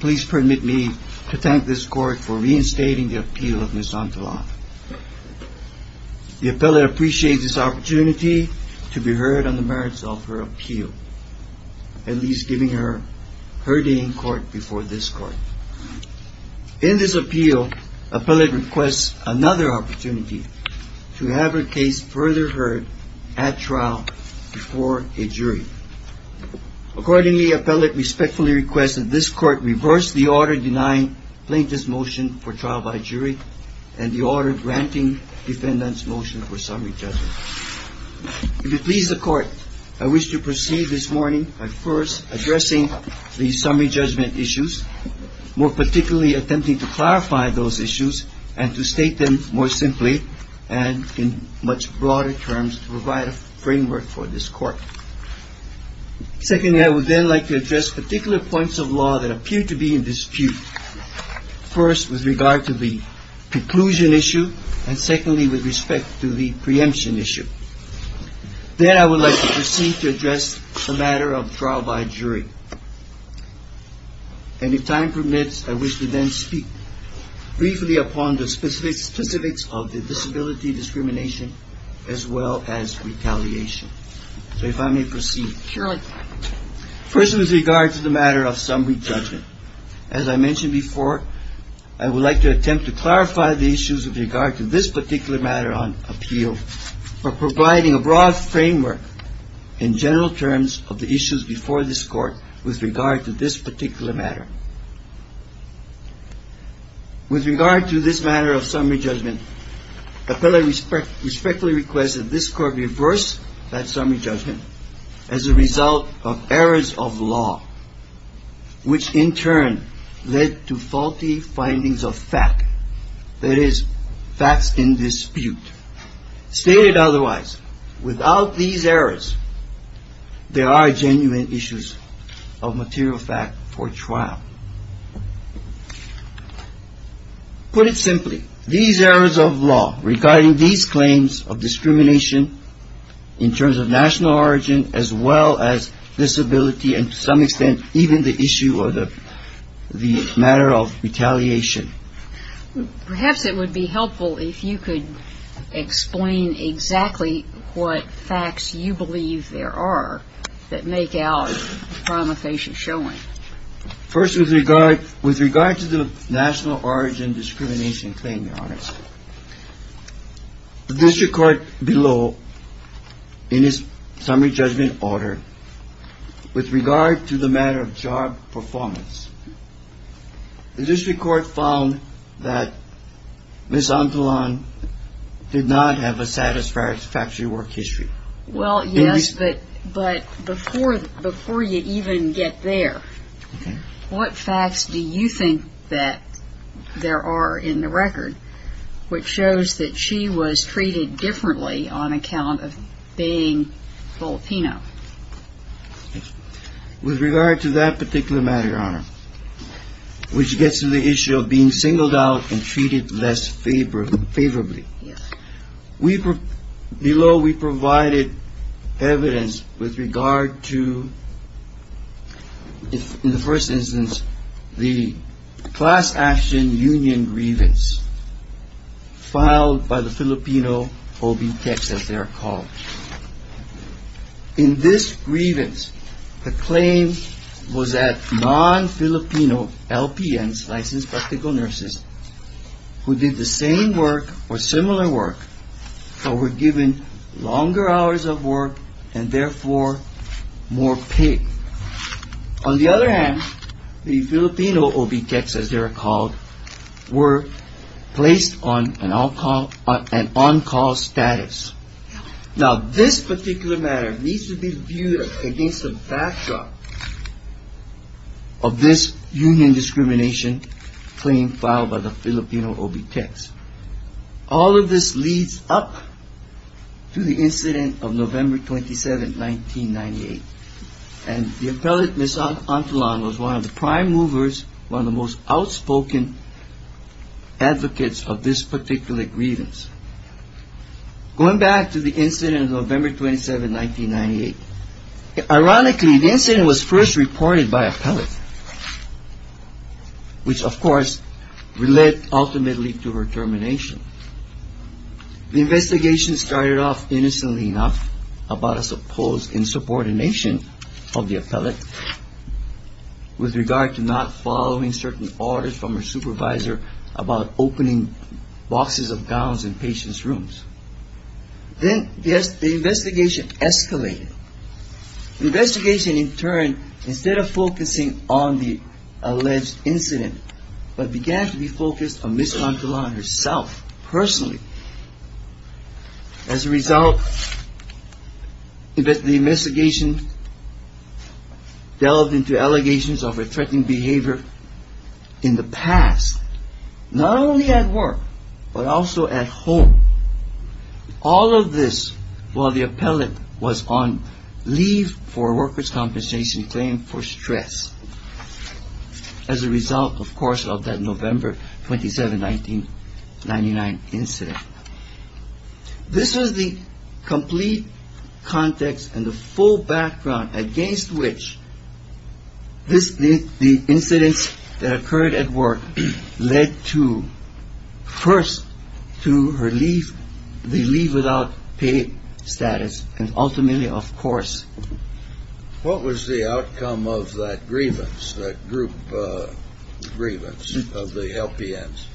Please permit me to thank this court for reinstating the appeal of Ms. Antelan. The appellate appreciates this opportunity to be heard on the merits of her appeal, at least giving her her day in court before this court. In this appeal, appellate requests another opportunity to have her case further heard at trial before a jury. Accordingly, appellate respectfully requests that this court reverse the order denying plaintiff's motion for trial by jury and the order granting defendant's motion for summary judgment. If you please the court, I wish to proceed this morning by first addressing the summary judgment issues, more particularly attempting to clarify those issues and to state them more simply and in much broader terms to provide a framework for this court. Secondly, I would then like to address particular points of law that appear to be in dispute, first with regard to the preclusion issue and secondly with respect to the preemption issue. Then I would like to proceed to address the matter of trial by jury. And if time permits, I wish to then speak briefly upon the specifics of the disability discrimination as well as retaliation. So if I may proceed. Sure. First with regard to the matter of summary judgment, as I mentioned before, I would like to attempt to clarify the issues with regard to this particular matter on appeal. For providing a broad framework in general terms of the issues before this court with regard to this particular matter. With regard to this matter of summary judgment, appellate respectfully requests that this court reverse that summary judgment as a result of errors of law, which in turn led to faulty findings of fact. That is facts in dispute. Stated otherwise, without these errors, there are genuine issues of material fact for trial. Put it simply, these errors of law regarding these claims of discrimination in terms of national origin as well as disability and to some extent even the issue of the matter of retaliation. Perhaps it would be helpful if you could explain exactly what facts you believe there are that make out from a facial showing. First with regard with regard to the national origin discrimination claim. This record below in his summary judgment order with regard to the matter of job performance. This record found that. This uncle on did not have a satisfactory work history. Well, yes, but but before before you even get there. What facts do you think that there are in the record which shows that she was treated differently on account of being Filipino. With regard to that particular matter, which gets to the issue of being singled out and treated less favorably. We were below. We provided evidence with regard to. In the first instance, the class action union grievance. Filed by the Filipino will be Texas. They're called in this grievance. The claim was that non-Filipino LPNs licensed practical nurses who did the same work or similar work. So we're given longer hours of work and therefore more paid. On the other hand, the Filipino will be Texas. They're called were placed on an alcohol and on call status. Now, this particular matter needs to be viewed against the backdrop. Of this union discrimination claim filed by the Filipino will be text. All of this leads up to the incident of November 27th, 1998. And the appellate Miss Antolon was one of the prime movers. One of the most outspoken advocates of this particular grievance. Going back to the incident of November 27th, 1998. Ironically, the incident was first reported by appellate. Which, of course, led ultimately to her termination. The investigation started off innocently enough about a supposed insubordination of the appellate. With regard to not following certain orders from her supervisor about opening boxes of gowns in patients rooms. Then the investigation escalated. Investigation in turn, instead of focusing on the alleged incident. But began to be focused on Miss Antolon herself, personally. As a result, the investigation delved into allegations of her threatening behavior in the past. Not only at work, but also at home. All of this while the appellate was on leave for workers compensation claim for stress. As a result, of course, of that November 27th, 1999 incident. This was the complete context and the full background against which the incidents that occurred at work. Led to, first, to her leave, the leave without pay status. And ultimately, of course. What was the outcome of that grievance, that group grievance of the LPNs?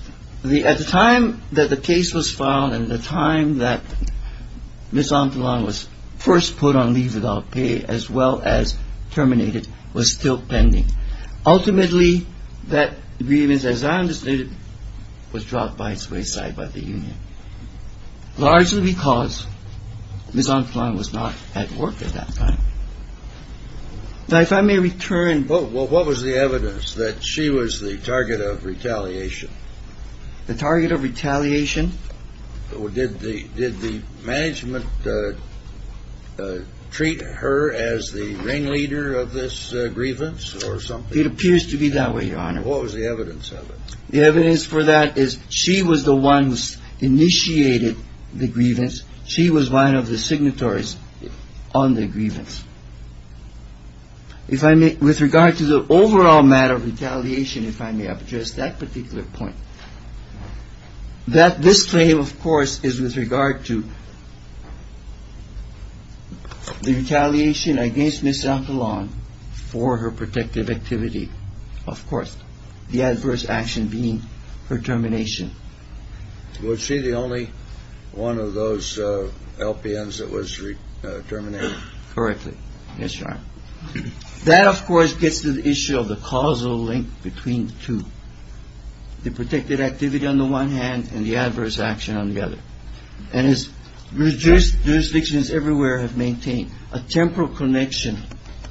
At the time that the case was filed and the time that Miss Antolon was first put on leave without pay, as well as terminated, was still pending. Ultimately, that grievance, as I understood it, was dropped by its wayside by the union. Largely because Miss Antolon was not at work at that time. Now, if I may return. Well, what was the evidence that she was the target of retaliation? The target of retaliation. Did the management treat her as the ringleader of this grievance or something? It appears to be that way, Your Honor. What was the evidence of it? The evidence for that is she was the one who initiated the grievance. She was one of the signatories on the grievance. With regard to the overall matter of retaliation, if I may address that particular point. That this claim, of course, is with regard to the retaliation against Miss Antolon for her protective activity. Of course. The adverse action being her termination. Was she the only one of those LPNs that was terminated? Correctly. Yes, Your Honor. That, of course, gets to the issue of the causal link between the two. The protective activity on the one hand and the adverse action on the other. And as jurisdictions everywhere have maintained, a temporal connection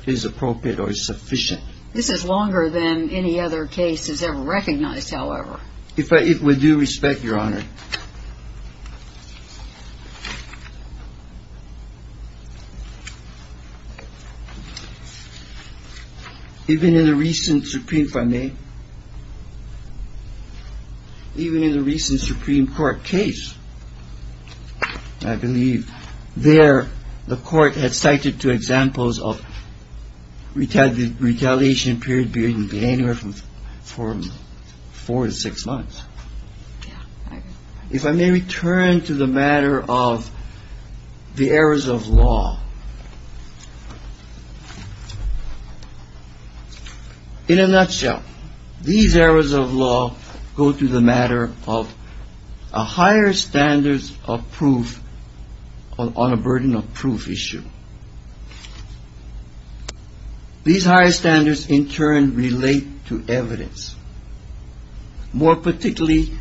is appropriate or sufficient. This is longer than any other case is ever recognized, however. With due respect, Your Honor. Even in the recent Supreme Court case, I believe, there the court had cited two examples of retaliation. And period being anywhere from four to six months. If I may return to the matter of the errors of law. In a nutshell, these errors of law go to the matter of a higher standards of proof on a burden of proof issue. These higher standards, in turn, relate to evidence. More particularly,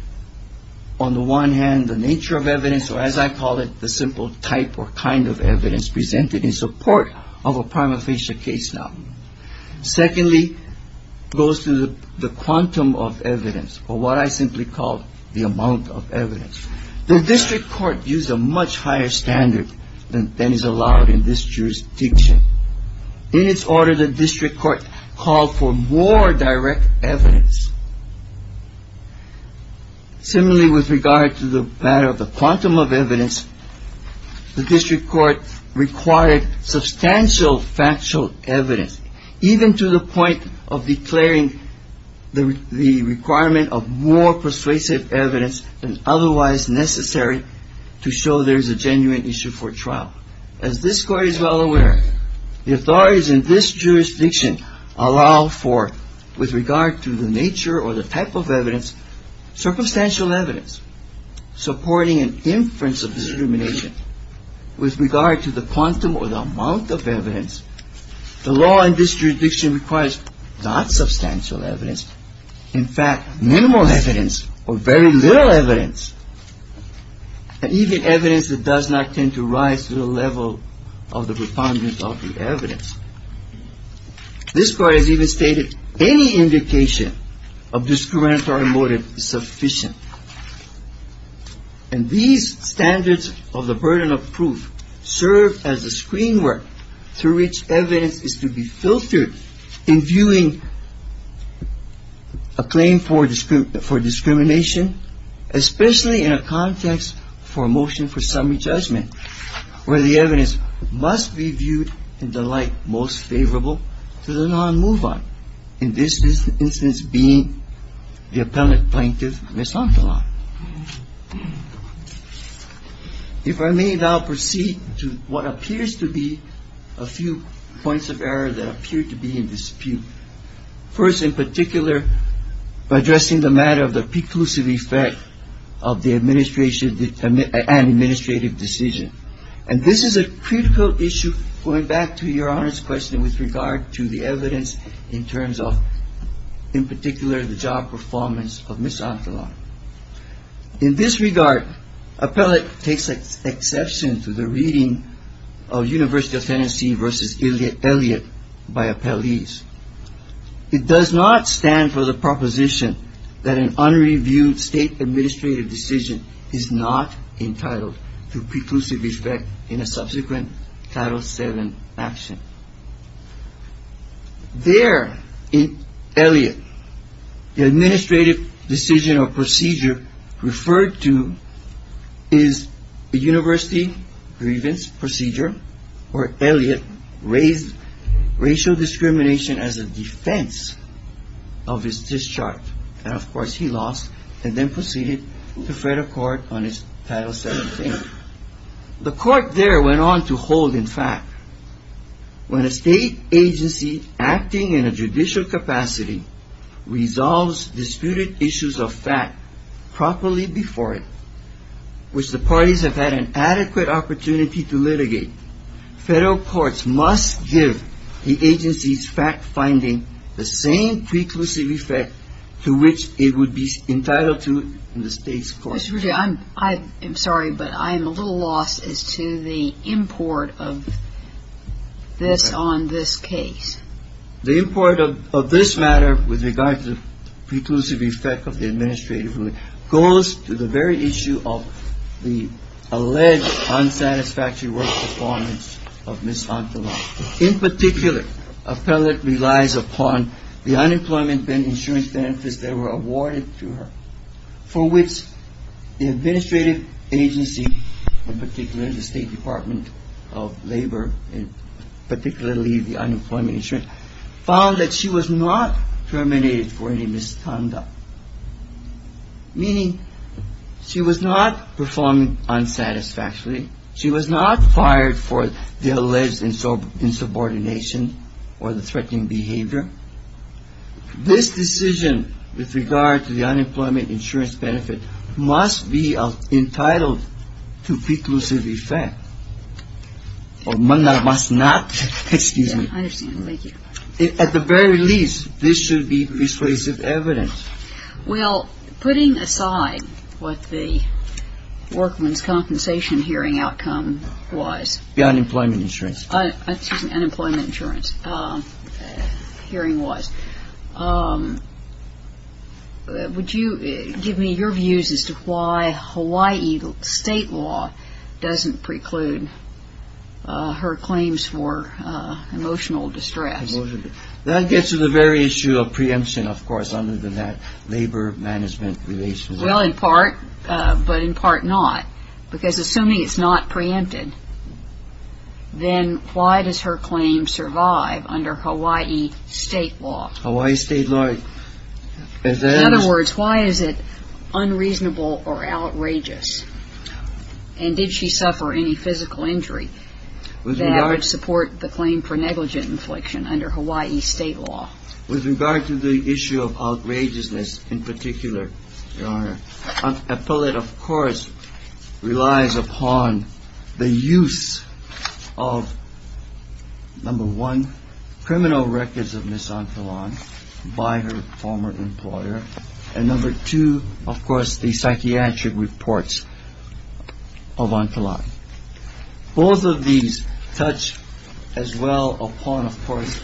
on the one hand, the nature of evidence, or as I call it, the simple type or kind of evidence presented in support of a prima facie case now. Secondly, goes to the quantum of evidence, or what I simply call the amount of evidence. The district court used a much higher standard than is allowed in this jurisdiction. In its order, the district court called for more direct evidence. Similarly, with regard to the matter of the quantum of evidence, the district court required substantial factual evidence, even to the point of declaring the requirement of more persuasive evidence than otherwise necessary to show there is a genuine issue for trial. As this court is well aware, the authorities in this jurisdiction allow for, with regard to the nature or the type of evidence, circumstantial evidence supporting an inference of discrimination. With regard to the quantum or the amount of evidence, the law in this jurisdiction requires not substantial evidence, in fact, minimal evidence or very little evidence, and even evidence that does not tend to rise to the level of the preponderance of the evidence. This court has even stated any indication of discriminatory motive is sufficient. And these standards of the burden of proof serve as a screen work through which evidence is to be filtered in viewing a claim for discrimination, especially in a context for a motion for summary judgment, where the evidence must be viewed in the light most favorable to the non-move on, in this instance being the appellant plaintiff, Ms. Antolon. If I may now proceed to what appears to be a few points of error that appear to be in dispute. First, in particular, addressing the matter of the preclusive effect of the administration and administrative decision. And this is a critical issue going back to your Honor's question with regard to the evidence in terms of, in particular, the job performance of Ms. Antolon. In this regard, appellate takes exception to the reading of University of Tennessee v. Elliot by appellees. It does not stand for the proposition that an unreviewed state administrative decision is not entitled to preclusive effect in a subsequent Title VII action. There, in Elliot, the administrative decision or procedure referred to is a university grievance procedure, where Elliot raised racial discrimination as a defense of his discharge. And, of course, he lost and then proceeded to fret a court on his Title VII claim. The court there went on to hold, in fact, when a state agency acting in a judicial capacity resolves disputed issues of fact properly before it, which the parties have had an adequate opportunity to litigate, federal courts must give the agency's fact-finding the same preclusive effect to which it would be entitled to in the state's court. I'm sorry, but I'm a little lost as to the import of this on this case. The import of this matter with regard to the preclusive effect of the administrative rule goes to the very issue of the alleged unsatisfactory work performance of Ms. Antolon. In particular, appellate relies upon the unemployment insurance benefits that were awarded to her for which the administrative agency, in particular the State Department of Labor, and particularly the unemployment insurance, found that she was not terminated for any misconduct, meaning she was not performing unsatisfactorily. She was not fired for the alleged insubordination or the threatening behavior. Therefore, this decision with regard to the unemployment insurance benefit must be entitled to preclusive effect. Or must not, excuse me. I understand. Thank you. At the very least, this should be persuasive evidence. Well, putting aside what the workman's compensation hearing outcome was. The unemployment insurance. Excuse me. Unemployment insurance hearing was. Would you give me your views as to why Hawaii state law doesn't preclude her claims for emotional distress? That gets to the very issue of preemption, of course, other than that labor management relationship. Well, in part, but in part not. Because assuming it's not preempted, then why does her claim survive under Hawaii state law? Hawaii state law. In other words, why is it unreasonable or outrageous? And did she suffer any physical injury that would support the claim for negligent infliction under Hawaii state law? With regard to the issue of outrageousness in particular, Your Honor. Appellate, of course, relies upon the use of. Number one, criminal records of Ms. Antillon by her former employer. And number two, of course, the psychiatric reports of Antillon. Both of these touch as well upon, of course,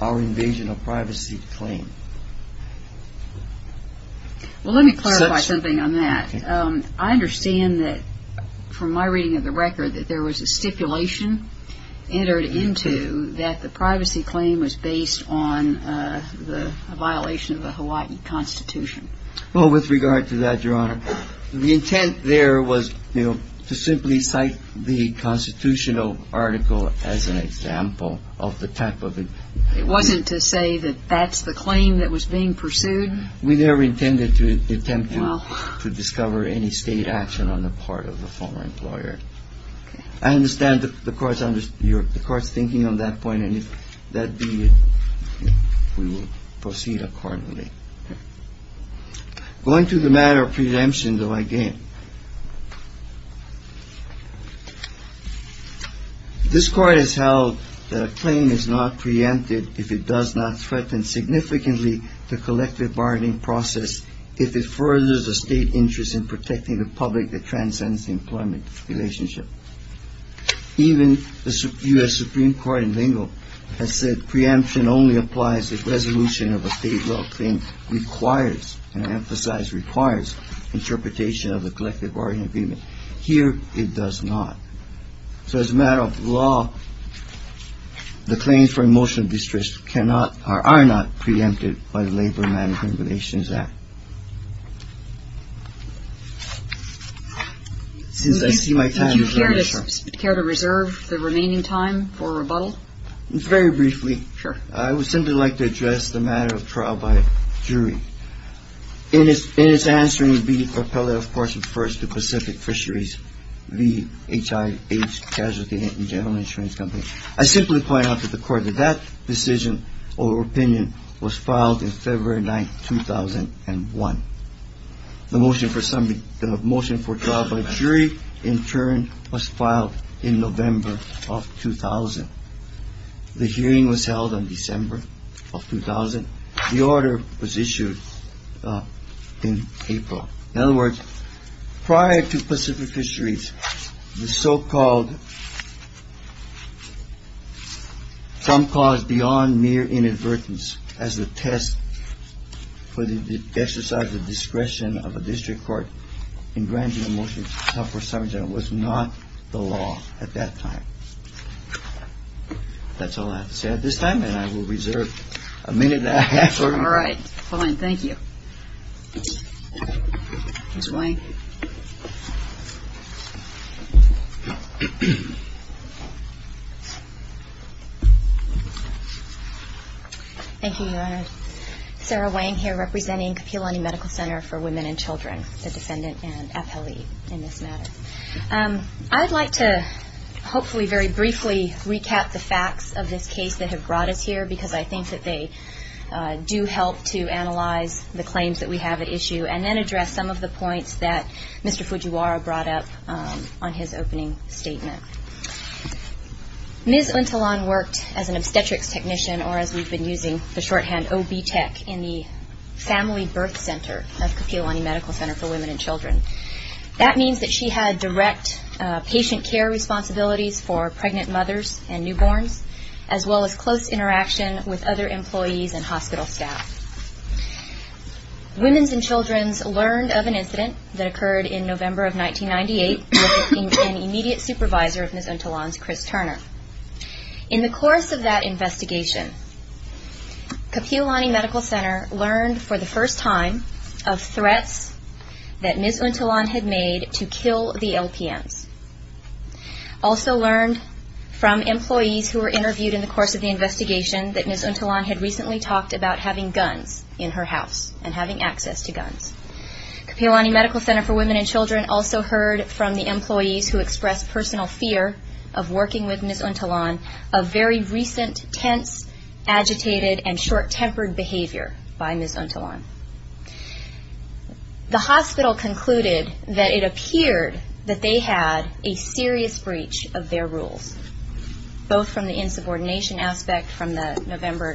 our invasion of privacy claim. Well, let me clarify something on that. I understand that from my reading of the record that there was a stipulation entered into that the privacy claim was based on the violation of the Hawaii Constitution. Well, with regard to that, Your Honor, the intent there was to simply cite the constitutional article as an example of the type of it. It wasn't to say that that's the claim that was being pursued? We never intended to attempt to discover any state action on the part of the former employer. I understand the Court's thinking on that point, and if that be it, we will proceed accordingly. Going to the matter of preemption, though, again. This Court has held that a claim is not preempted if it does not threaten significantly the collective bargaining process, if it furthers the state interest in protecting the public that transcends the employment relationship. Even the U.S. Supreme Court in lingo has said preemption only applies if resolution of a state law claim requires, and I emphasize requires, interpretation of the collective bargaining agreement. Here it does not. So as a matter of law, the claims for emotional distress cannot or are not preempted by the Labor Management Relations Act. Since I see my time is running short. Would you care to reserve the remaining time for rebuttal? Very briefly. Sure. I would simply like to address the matter of trial by jury. In its answering, the appellate, of course, refers to Pacific Fisheries, the HIH Casualty and General Insurance Company. I simply point out to the Court that that decision or opinion was filed in February 9, 2001. The motion for trial by jury, in turn, was filed in November of 2000. The hearing was held in December of 2000. The order was issued in April. In other words, prior to Pacific Fisheries, the so-called some cause beyond mere inadvertence as a test for the exercise of discretion of a district court in granting a motion to suffer subject was not the law at that time. That's all I have to say at this time, and I will reserve a minute and a half. All right. Fine. Thank you. Ms. Wang. Thank you, Your Honor. Sarah Wang here, representing Kapi'olani Medical Center for Women and Children, the defendant and appellee in this matter. I would like to hopefully very briefly recap the facts of this case that have brought us here, because I think that they do help to analyze the claims that we have at issue, and then address some of the points that Mr. Fujiwara brought up on his opening statement. Ms. Untulan worked as an obstetrics technician, or as we've been using the shorthand OB-TECH, in the family birth center of Kapi'olani Medical Center for Women and Children. That means that she had direct patient care responsibilities for pregnant mothers and newborns, as well as close interaction with other employees and hospital staff. Women and Children learned of an incident that occurred in November of 1998, with an immediate supervisor of Ms. Untulan's, Chris Turner. In the course of that investigation, Kapi'olani Medical Center learned for the first time of threats that Ms. Untulan had made to kill the LPNs. Also learned from employees who were interviewed in the course of the investigation that Ms. Untulan had recently talked about having guns in her house, and having access to guns. Kapi'olani Medical Center for Women and Children also heard from the employees who expressed personal fear of working with Ms. Untulan, of very recent, tense, agitated, and short-tempered behavior by Ms. Untulan. The hospital concluded that it appeared that they had a serious breach of their rules, both from the insubordination aspect from the November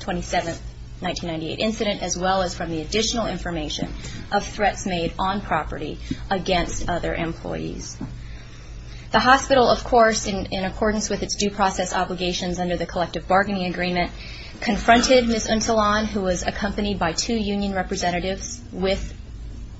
27, 1998 incident, as well as from the additional information of threats made on property against other employees. The hospital, of course, in accordance with its due process obligations under the collective bargaining agreement, confronted Ms. Untulan, who was accompanied by two union representatives, with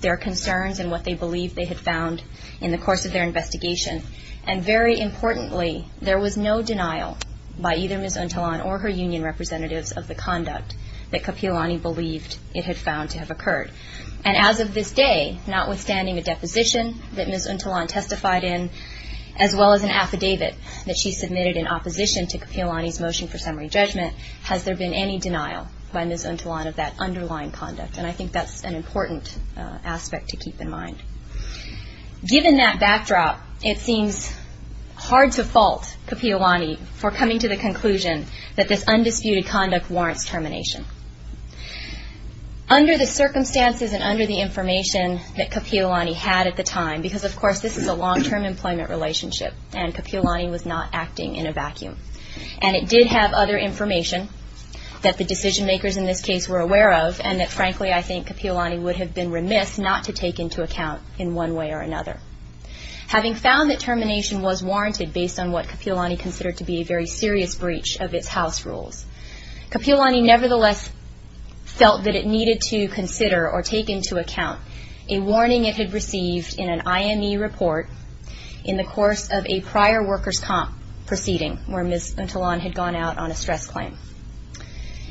their concerns and what they believed they had found in the course of their investigation. And very importantly, there was no denial by either Ms. Untulan or her union representatives of the conduct that Kapi'olani believed it had found to have occurred. And as of this day, notwithstanding a deposition that Ms. Untulan testified in, as well as an affidavit that she submitted in opposition to Kapi'olani's motion for summary judgment, has there been any denial by Ms. Untulan of that underlying conduct? And I think that's an important aspect to keep in mind. Given that backdrop, it seems hard to fault Kapi'olani for coming to the conclusion that this undisputed conduct warrants termination. Under the circumstances and under the information that Kapi'olani had at the time, because, of course, this is a long-term employment relationship, and Kapi'olani was not acting in a vacuum, and it did have other information that the decision-makers in this case were aware of, and that, frankly, I think Kapi'olani would have been remiss not to take into account in one way or another. Having found that termination was warranted based on what Kapi'olani considered to be a very serious breach of its house rules, Kapi'olani nevertheless felt that it needed to consider or take into account a warning it had received in an IME report in the course of a prior workers' comp proceeding where Ms. Untulan had gone out on a stress claim.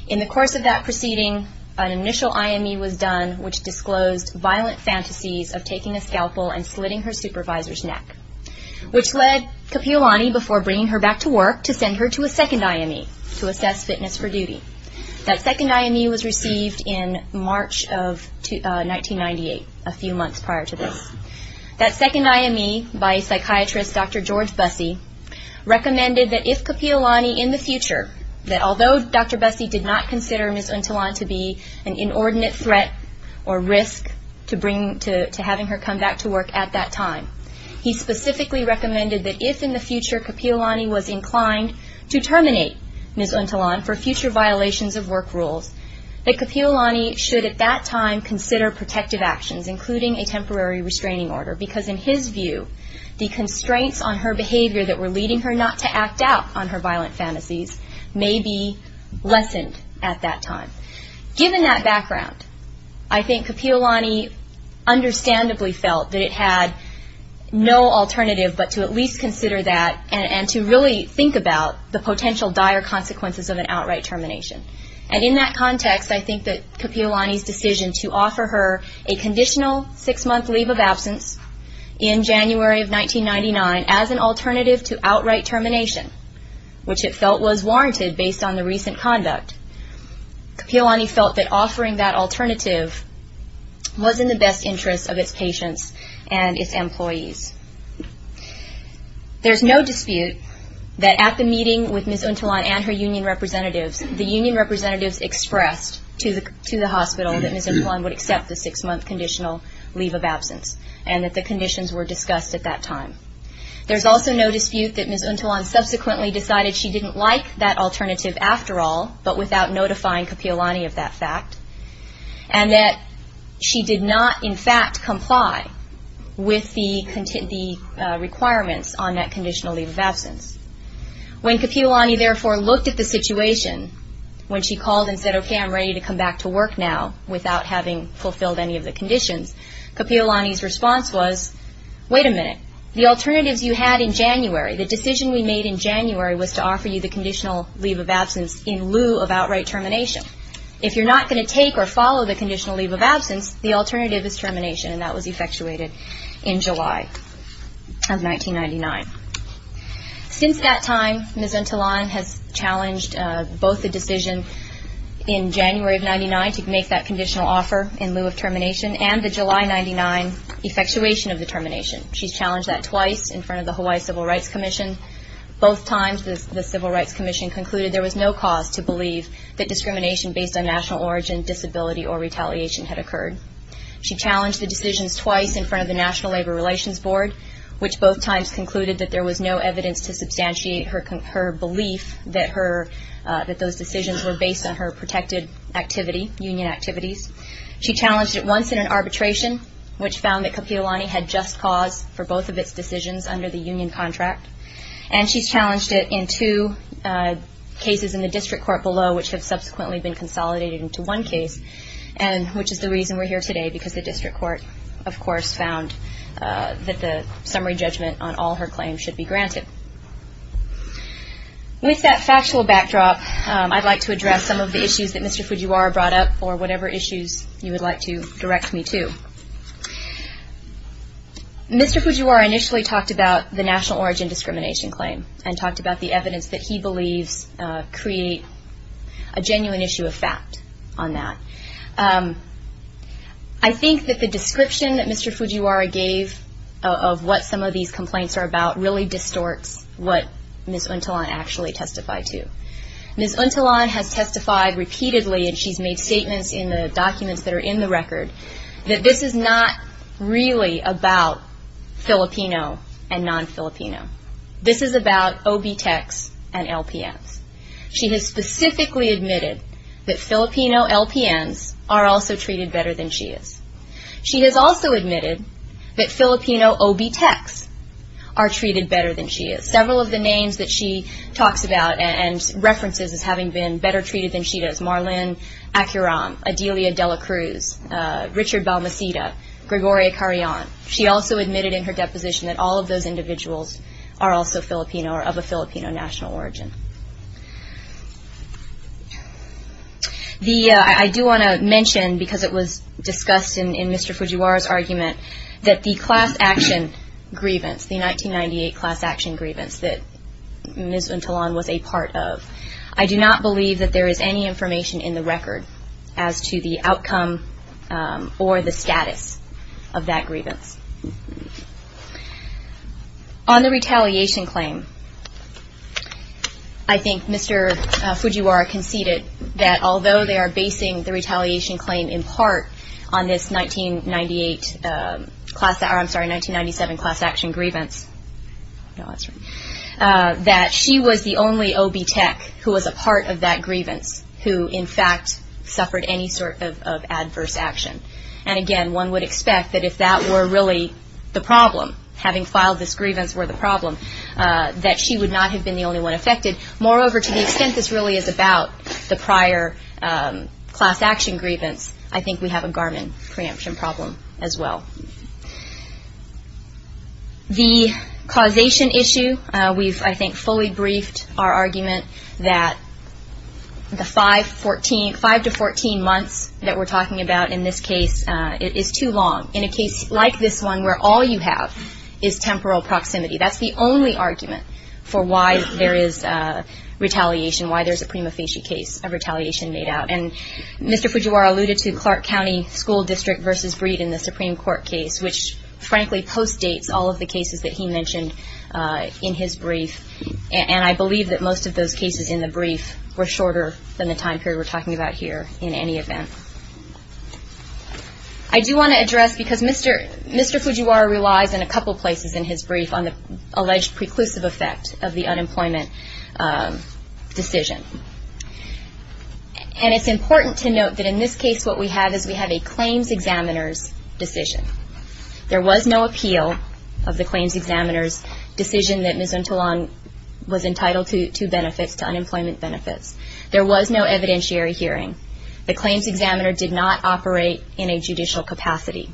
In the course of that proceeding, an initial IME was done, which disclosed violent fantasies of taking a scalpel and slitting her supervisor's neck, which led Kapi'olani, before bringing her back to work, to send her to a second IME to assess fitness for duty. That second IME was received in March of 1998, a few months prior to this. That second IME, by psychiatrist Dr. George Bussey, recommended that if Kapi'olani in the future, that although Dr. Bussey did not consider Ms. Untulan to be an inordinate threat or risk to having her come back to work at that time, he specifically recommended that if in the future Kapi'olani was inclined to terminate Ms. Untulan for future violations of work rules, that Kapi'olani should at that time consider protective actions, including a temporary restraining order, because in his view, the constraints on her behavior that were leading her not to act out on her violent fantasies may be lessened at that time. Given that background, I think Kapi'olani understandably felt that it had no alternative but to at least consider that and to really think about the potential dire consequences of an outright termination. And in that context, I think that Kapi'olani's decision to offer her a conditional six-month leave of absence in January of 1999 as an alternative to outright termination, which it felt was warranted based on the recent conduct, Kapi'olani felt that offering that alternative was in the best interest of its patients and its employees. There's no dispute that at the meeting with Ms. Untulan and her union representatives, the union representatives expressed to the hospital that Ms. Untulan would accept the six-month conditional leave of absence and that the conditions were discussed at that time. There's also no dispute that Ms. Untulan subsequently decided she didn't like that alternative after all, but without notifying Kapi'olani of that fact, and that she did not in fact comply with the requirements on that conditional leave of absence. When Kapi'olani therefore looked at the situation, when she called and said, okay, I'm ready to come back to work now without having fulfilled any of the conditions, Kapi'olani's response was, wait a minute, the alternatives you had in January, the decision we made in January was to offer you the conditional leave of absence in lieu of outright termination. If you're not going to take or follow the conditional leave of absence, the alternative is termination, and that was effectuated in July of 1999. Since that time, Ms. Untulan has challenged both the decision in January of 1999 to make that conditional offer in lieu of termination and the July 1999 effectuation of the termination. She's challenged that twice in front of the Hawaii Civil Rights Commission. Both times, the Civil Rights Commission concluded there was no cause to believe that discrimination based on national origin, disability, or retaliation had occurred. She challenged the decisions twice in front of the National Labor Relations Board, which both times concluded that there was no evidence to substantiate her belief that those decisions were based on her protected union activities. She challenged it once in an arbitration, which found that Kapi'olani had just cause for both of its decisions under the union contract. And she's challenged it in two cases in the district court below, which have subsequently been consolidated into one case, which is the reason we're here today, because the district court, of course, found that the summary judgment on all her claims should be granted. With that factual backdrop, I'd like to address some of the issues that Mr. Fujiwara brought up, or whatever issues you would like to direct me to. Mr. Fujiwara initially talked about the national origin discrimination claim and talked about the evidence that he believes create a genuine issue of fact on that. I think that the description that Mr. Fujiwara gave of what some of these complaints are about really distorts what Ms. Untulan actually testified to. Ms. Untulan has testified repeatedly, and she's made statements in the documents that are in the record, that this is not really about Filipino and non-Filipino. This is about OB Techs and LPNs. She has specifically admitted that Filipino LPNs are also treated better than she is. She has also admitted that Filipino OB Techs are treated better than she is. Several of the names that she talks about and references as having been better treated than she does, Marlene Acuron, Adelia Dela Cruz, Richard Balmesita, Gregoria Carrion, she also admitted in her deposition that all of those individuals are also Filipino or of a Filipino national origin. I do want to mention, because it was discussed in Mr. Fujiwara's argument, that the class action grievance, the 1998 class action grievance that Ms. Untulan was a part of, I do not believe that there is any information in the record as to the outcome or the status of that grievance. On the retaliation claim, I think Mr. Fujiwara conceded that although they are basing the retaliation claim in part on this 1998 class, I'm sorry, 1997 class action grievance, that she was the only OB Tech who was a part of that grievance, who in fact suffered any sort of adverse action. And again, one would expect that if that were really the problem, having filed this grievance were the problem, that she would not have been the only one affected. Moreover, to the extent this really is about the prior class action grievance, I think we have a Garmin preemption problem as well. The causation issue, we've I think fully briefed our argument that the 5 to 14 months that we're talking about in this case is too long. In a case like this one where all you have is temporal proximity, that's the only argument for why there is retaliation, why there's a prima facie case of retaliation made out. And Mr. Fujiwara alluded to Clark County School District versus Breed in the Supreme Court case, which frankly postdates all of the cases that he mentioned in his brief. And I believe that most of those cases in the brief were shorter than the time period we're talking about here in any event. I do want to address, because Mr. Fujiwara relies in a couple places in his brief, on the alleged preclusive effect of the unemployment decision. And it's important to note that in this case what we have is we have a claims examiner's decision. There was no appeal of the claims examiner's decision that Ms. Entelang was entitled to benefits, to unemployment benefits. There was no evidentiary hearing. The claims examiner did not operate in a judicial capacity.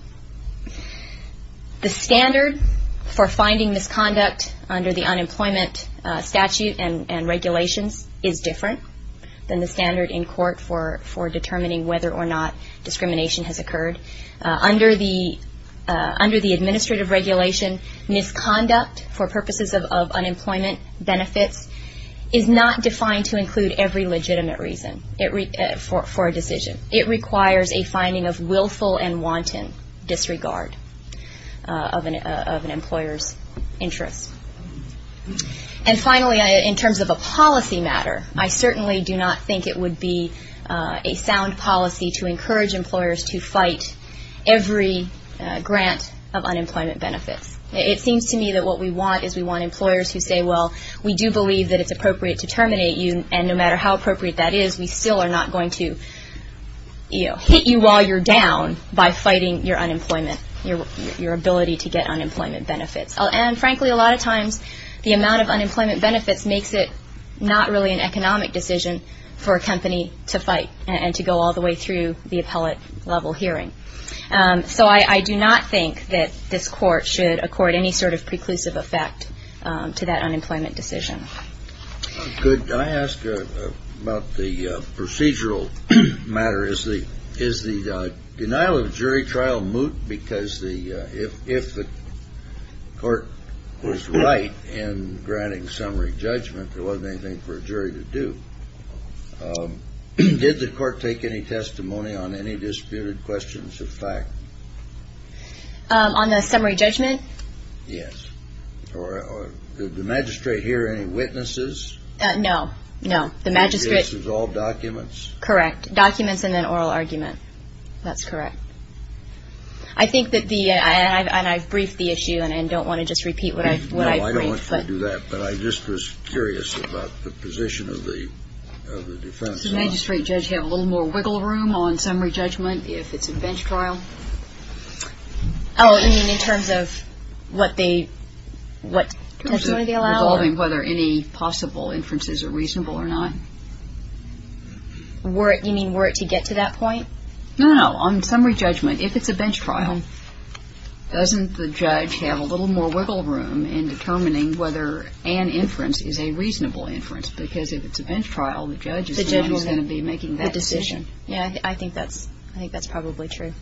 The standard for finding misconduct under the unemployment statute and regulations is different than the standard in court for determining whether or not discrimination has occurred. Under the administrative regulation, misconduct for purposes of unemployment benefits is not defined to include every legitimate reason for a decision. It requires a finding of willful and wanton disregard of an employer's interest. And finally, in terms of a policy matter, I certainly do not think it would be a sound policy to encourage employers to fight every grant of unemployment benefits. It seems to me that what we want is we want employers who say, well, we do believe that it's appropriate to terminate you, and no matter how appropriate that is, we still are not going to hit you while you're down by fighting your unemployment, your ability to get unemployment benefits. And frankly, a lot of times the amount of unemployment benefits makes it not really an economic decision for a company to fight and to go all the way through the appellate level hearing. So I do not think that this court should accord any sort of preclusive effect to that unemployment decision. Could I ask about the procedural matter? Is the is the denial of jury trial moot? Because the if if the court was right in granting summary judgment, there wasn't anything for a jury to do. Did the court take any testimony on any disputed questions of fact on the summary judgment? Yes. Or did the magistrate hear any witnesses? No, no. The magistrate. This is all documents? Correct. Documents and then oral argument. That's correct. I think that the and I've briefed the issue and I don't want to just repeat what I know. I don't want to do that, but I just was curious about the position of the of the defense. The magistrate judge have a little more wiggle room on summary judgment if it's a bench trial. Oh, I mean, in terms of what they what they allow. I mean, whether any possible inferences are reasonable or not. Were you mean were to get to that point? No, no. On summary judgment, if it's a bench trial, doesn't the judge have a little more wiggle room in determining whether an inference is a reasonable inference? Because if it's a bench trial, the judge is going to be making that decision. Yeah, I think that's I think that's probably true.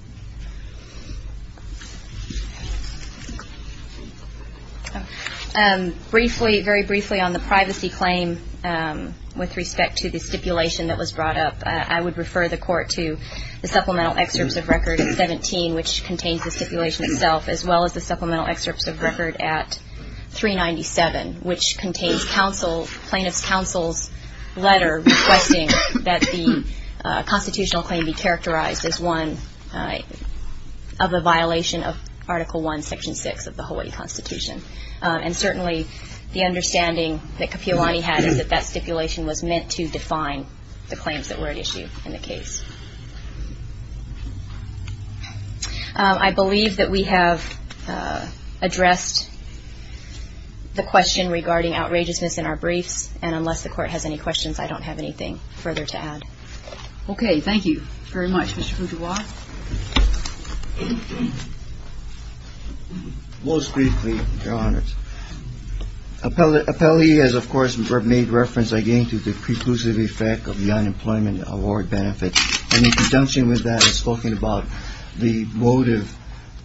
And briefly, very briefly on the privacy claim with respect to the stipulation that was brought up, I would refer the court to the supplemental excerpts of record at 17, which contains the stipulation itself, as well as the supplemental excerpts of record at 397, which contains counsel plaintiff's counsel's letter requesting that the constitutional claim be characterized as one of a violation of Article One, Section six of the Hawaii Constitution. And certainly the understanding that Kapiolani had is that that stipulation was meant to define the claims that were at issue in the case. I believe that we have addressed the question regarding outrageousness in our briefs. And unless the court has any questions, I don't have anything further to add. Okay. Thank you very much. Most briefly, Your Honors. Appellee has, of course, made reference again to the preclusive effect of the unemployment award benefit. And in conjunction with that, I was talking about the motive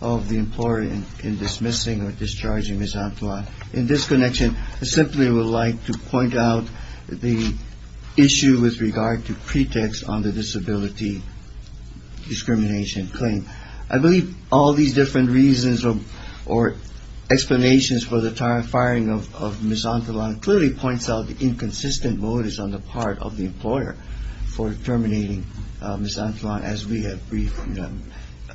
of the employer in dismissing or discharging Ms. Antoine. In this connection, I simply would like to point out the issue with regard to pretext on the disability discrimination claim. I believe all these different reasons or explanations for the firing of Ms. Antoine clearly points out the inconsistent motives on the part of the employer for terminating Ms. Antoine, as we have briefly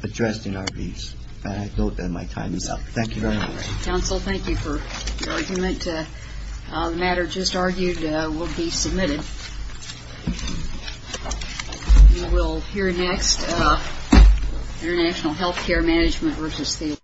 addressed in our briefs. And I note that my time is up. Thank you very much. Counsel, thank you for your argument. The matter just argued will be submitted. We will hear next international health care management versus the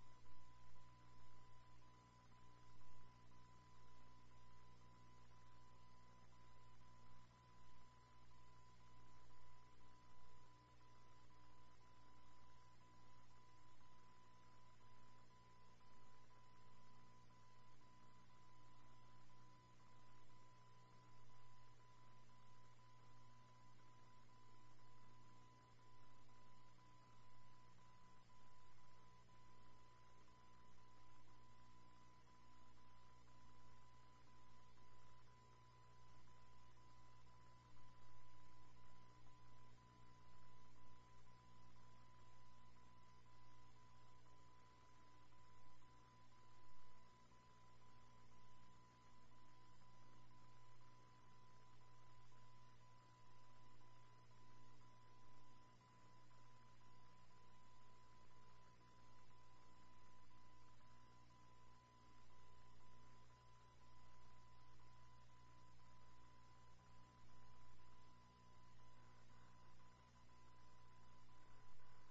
Department of Health and Human Services. Thank you. Thank you. Thank you. Thank you. Thank you. Thank you. Thank you. Thank you. Thank you. Thank you. Thank you. Thank you. Thank you.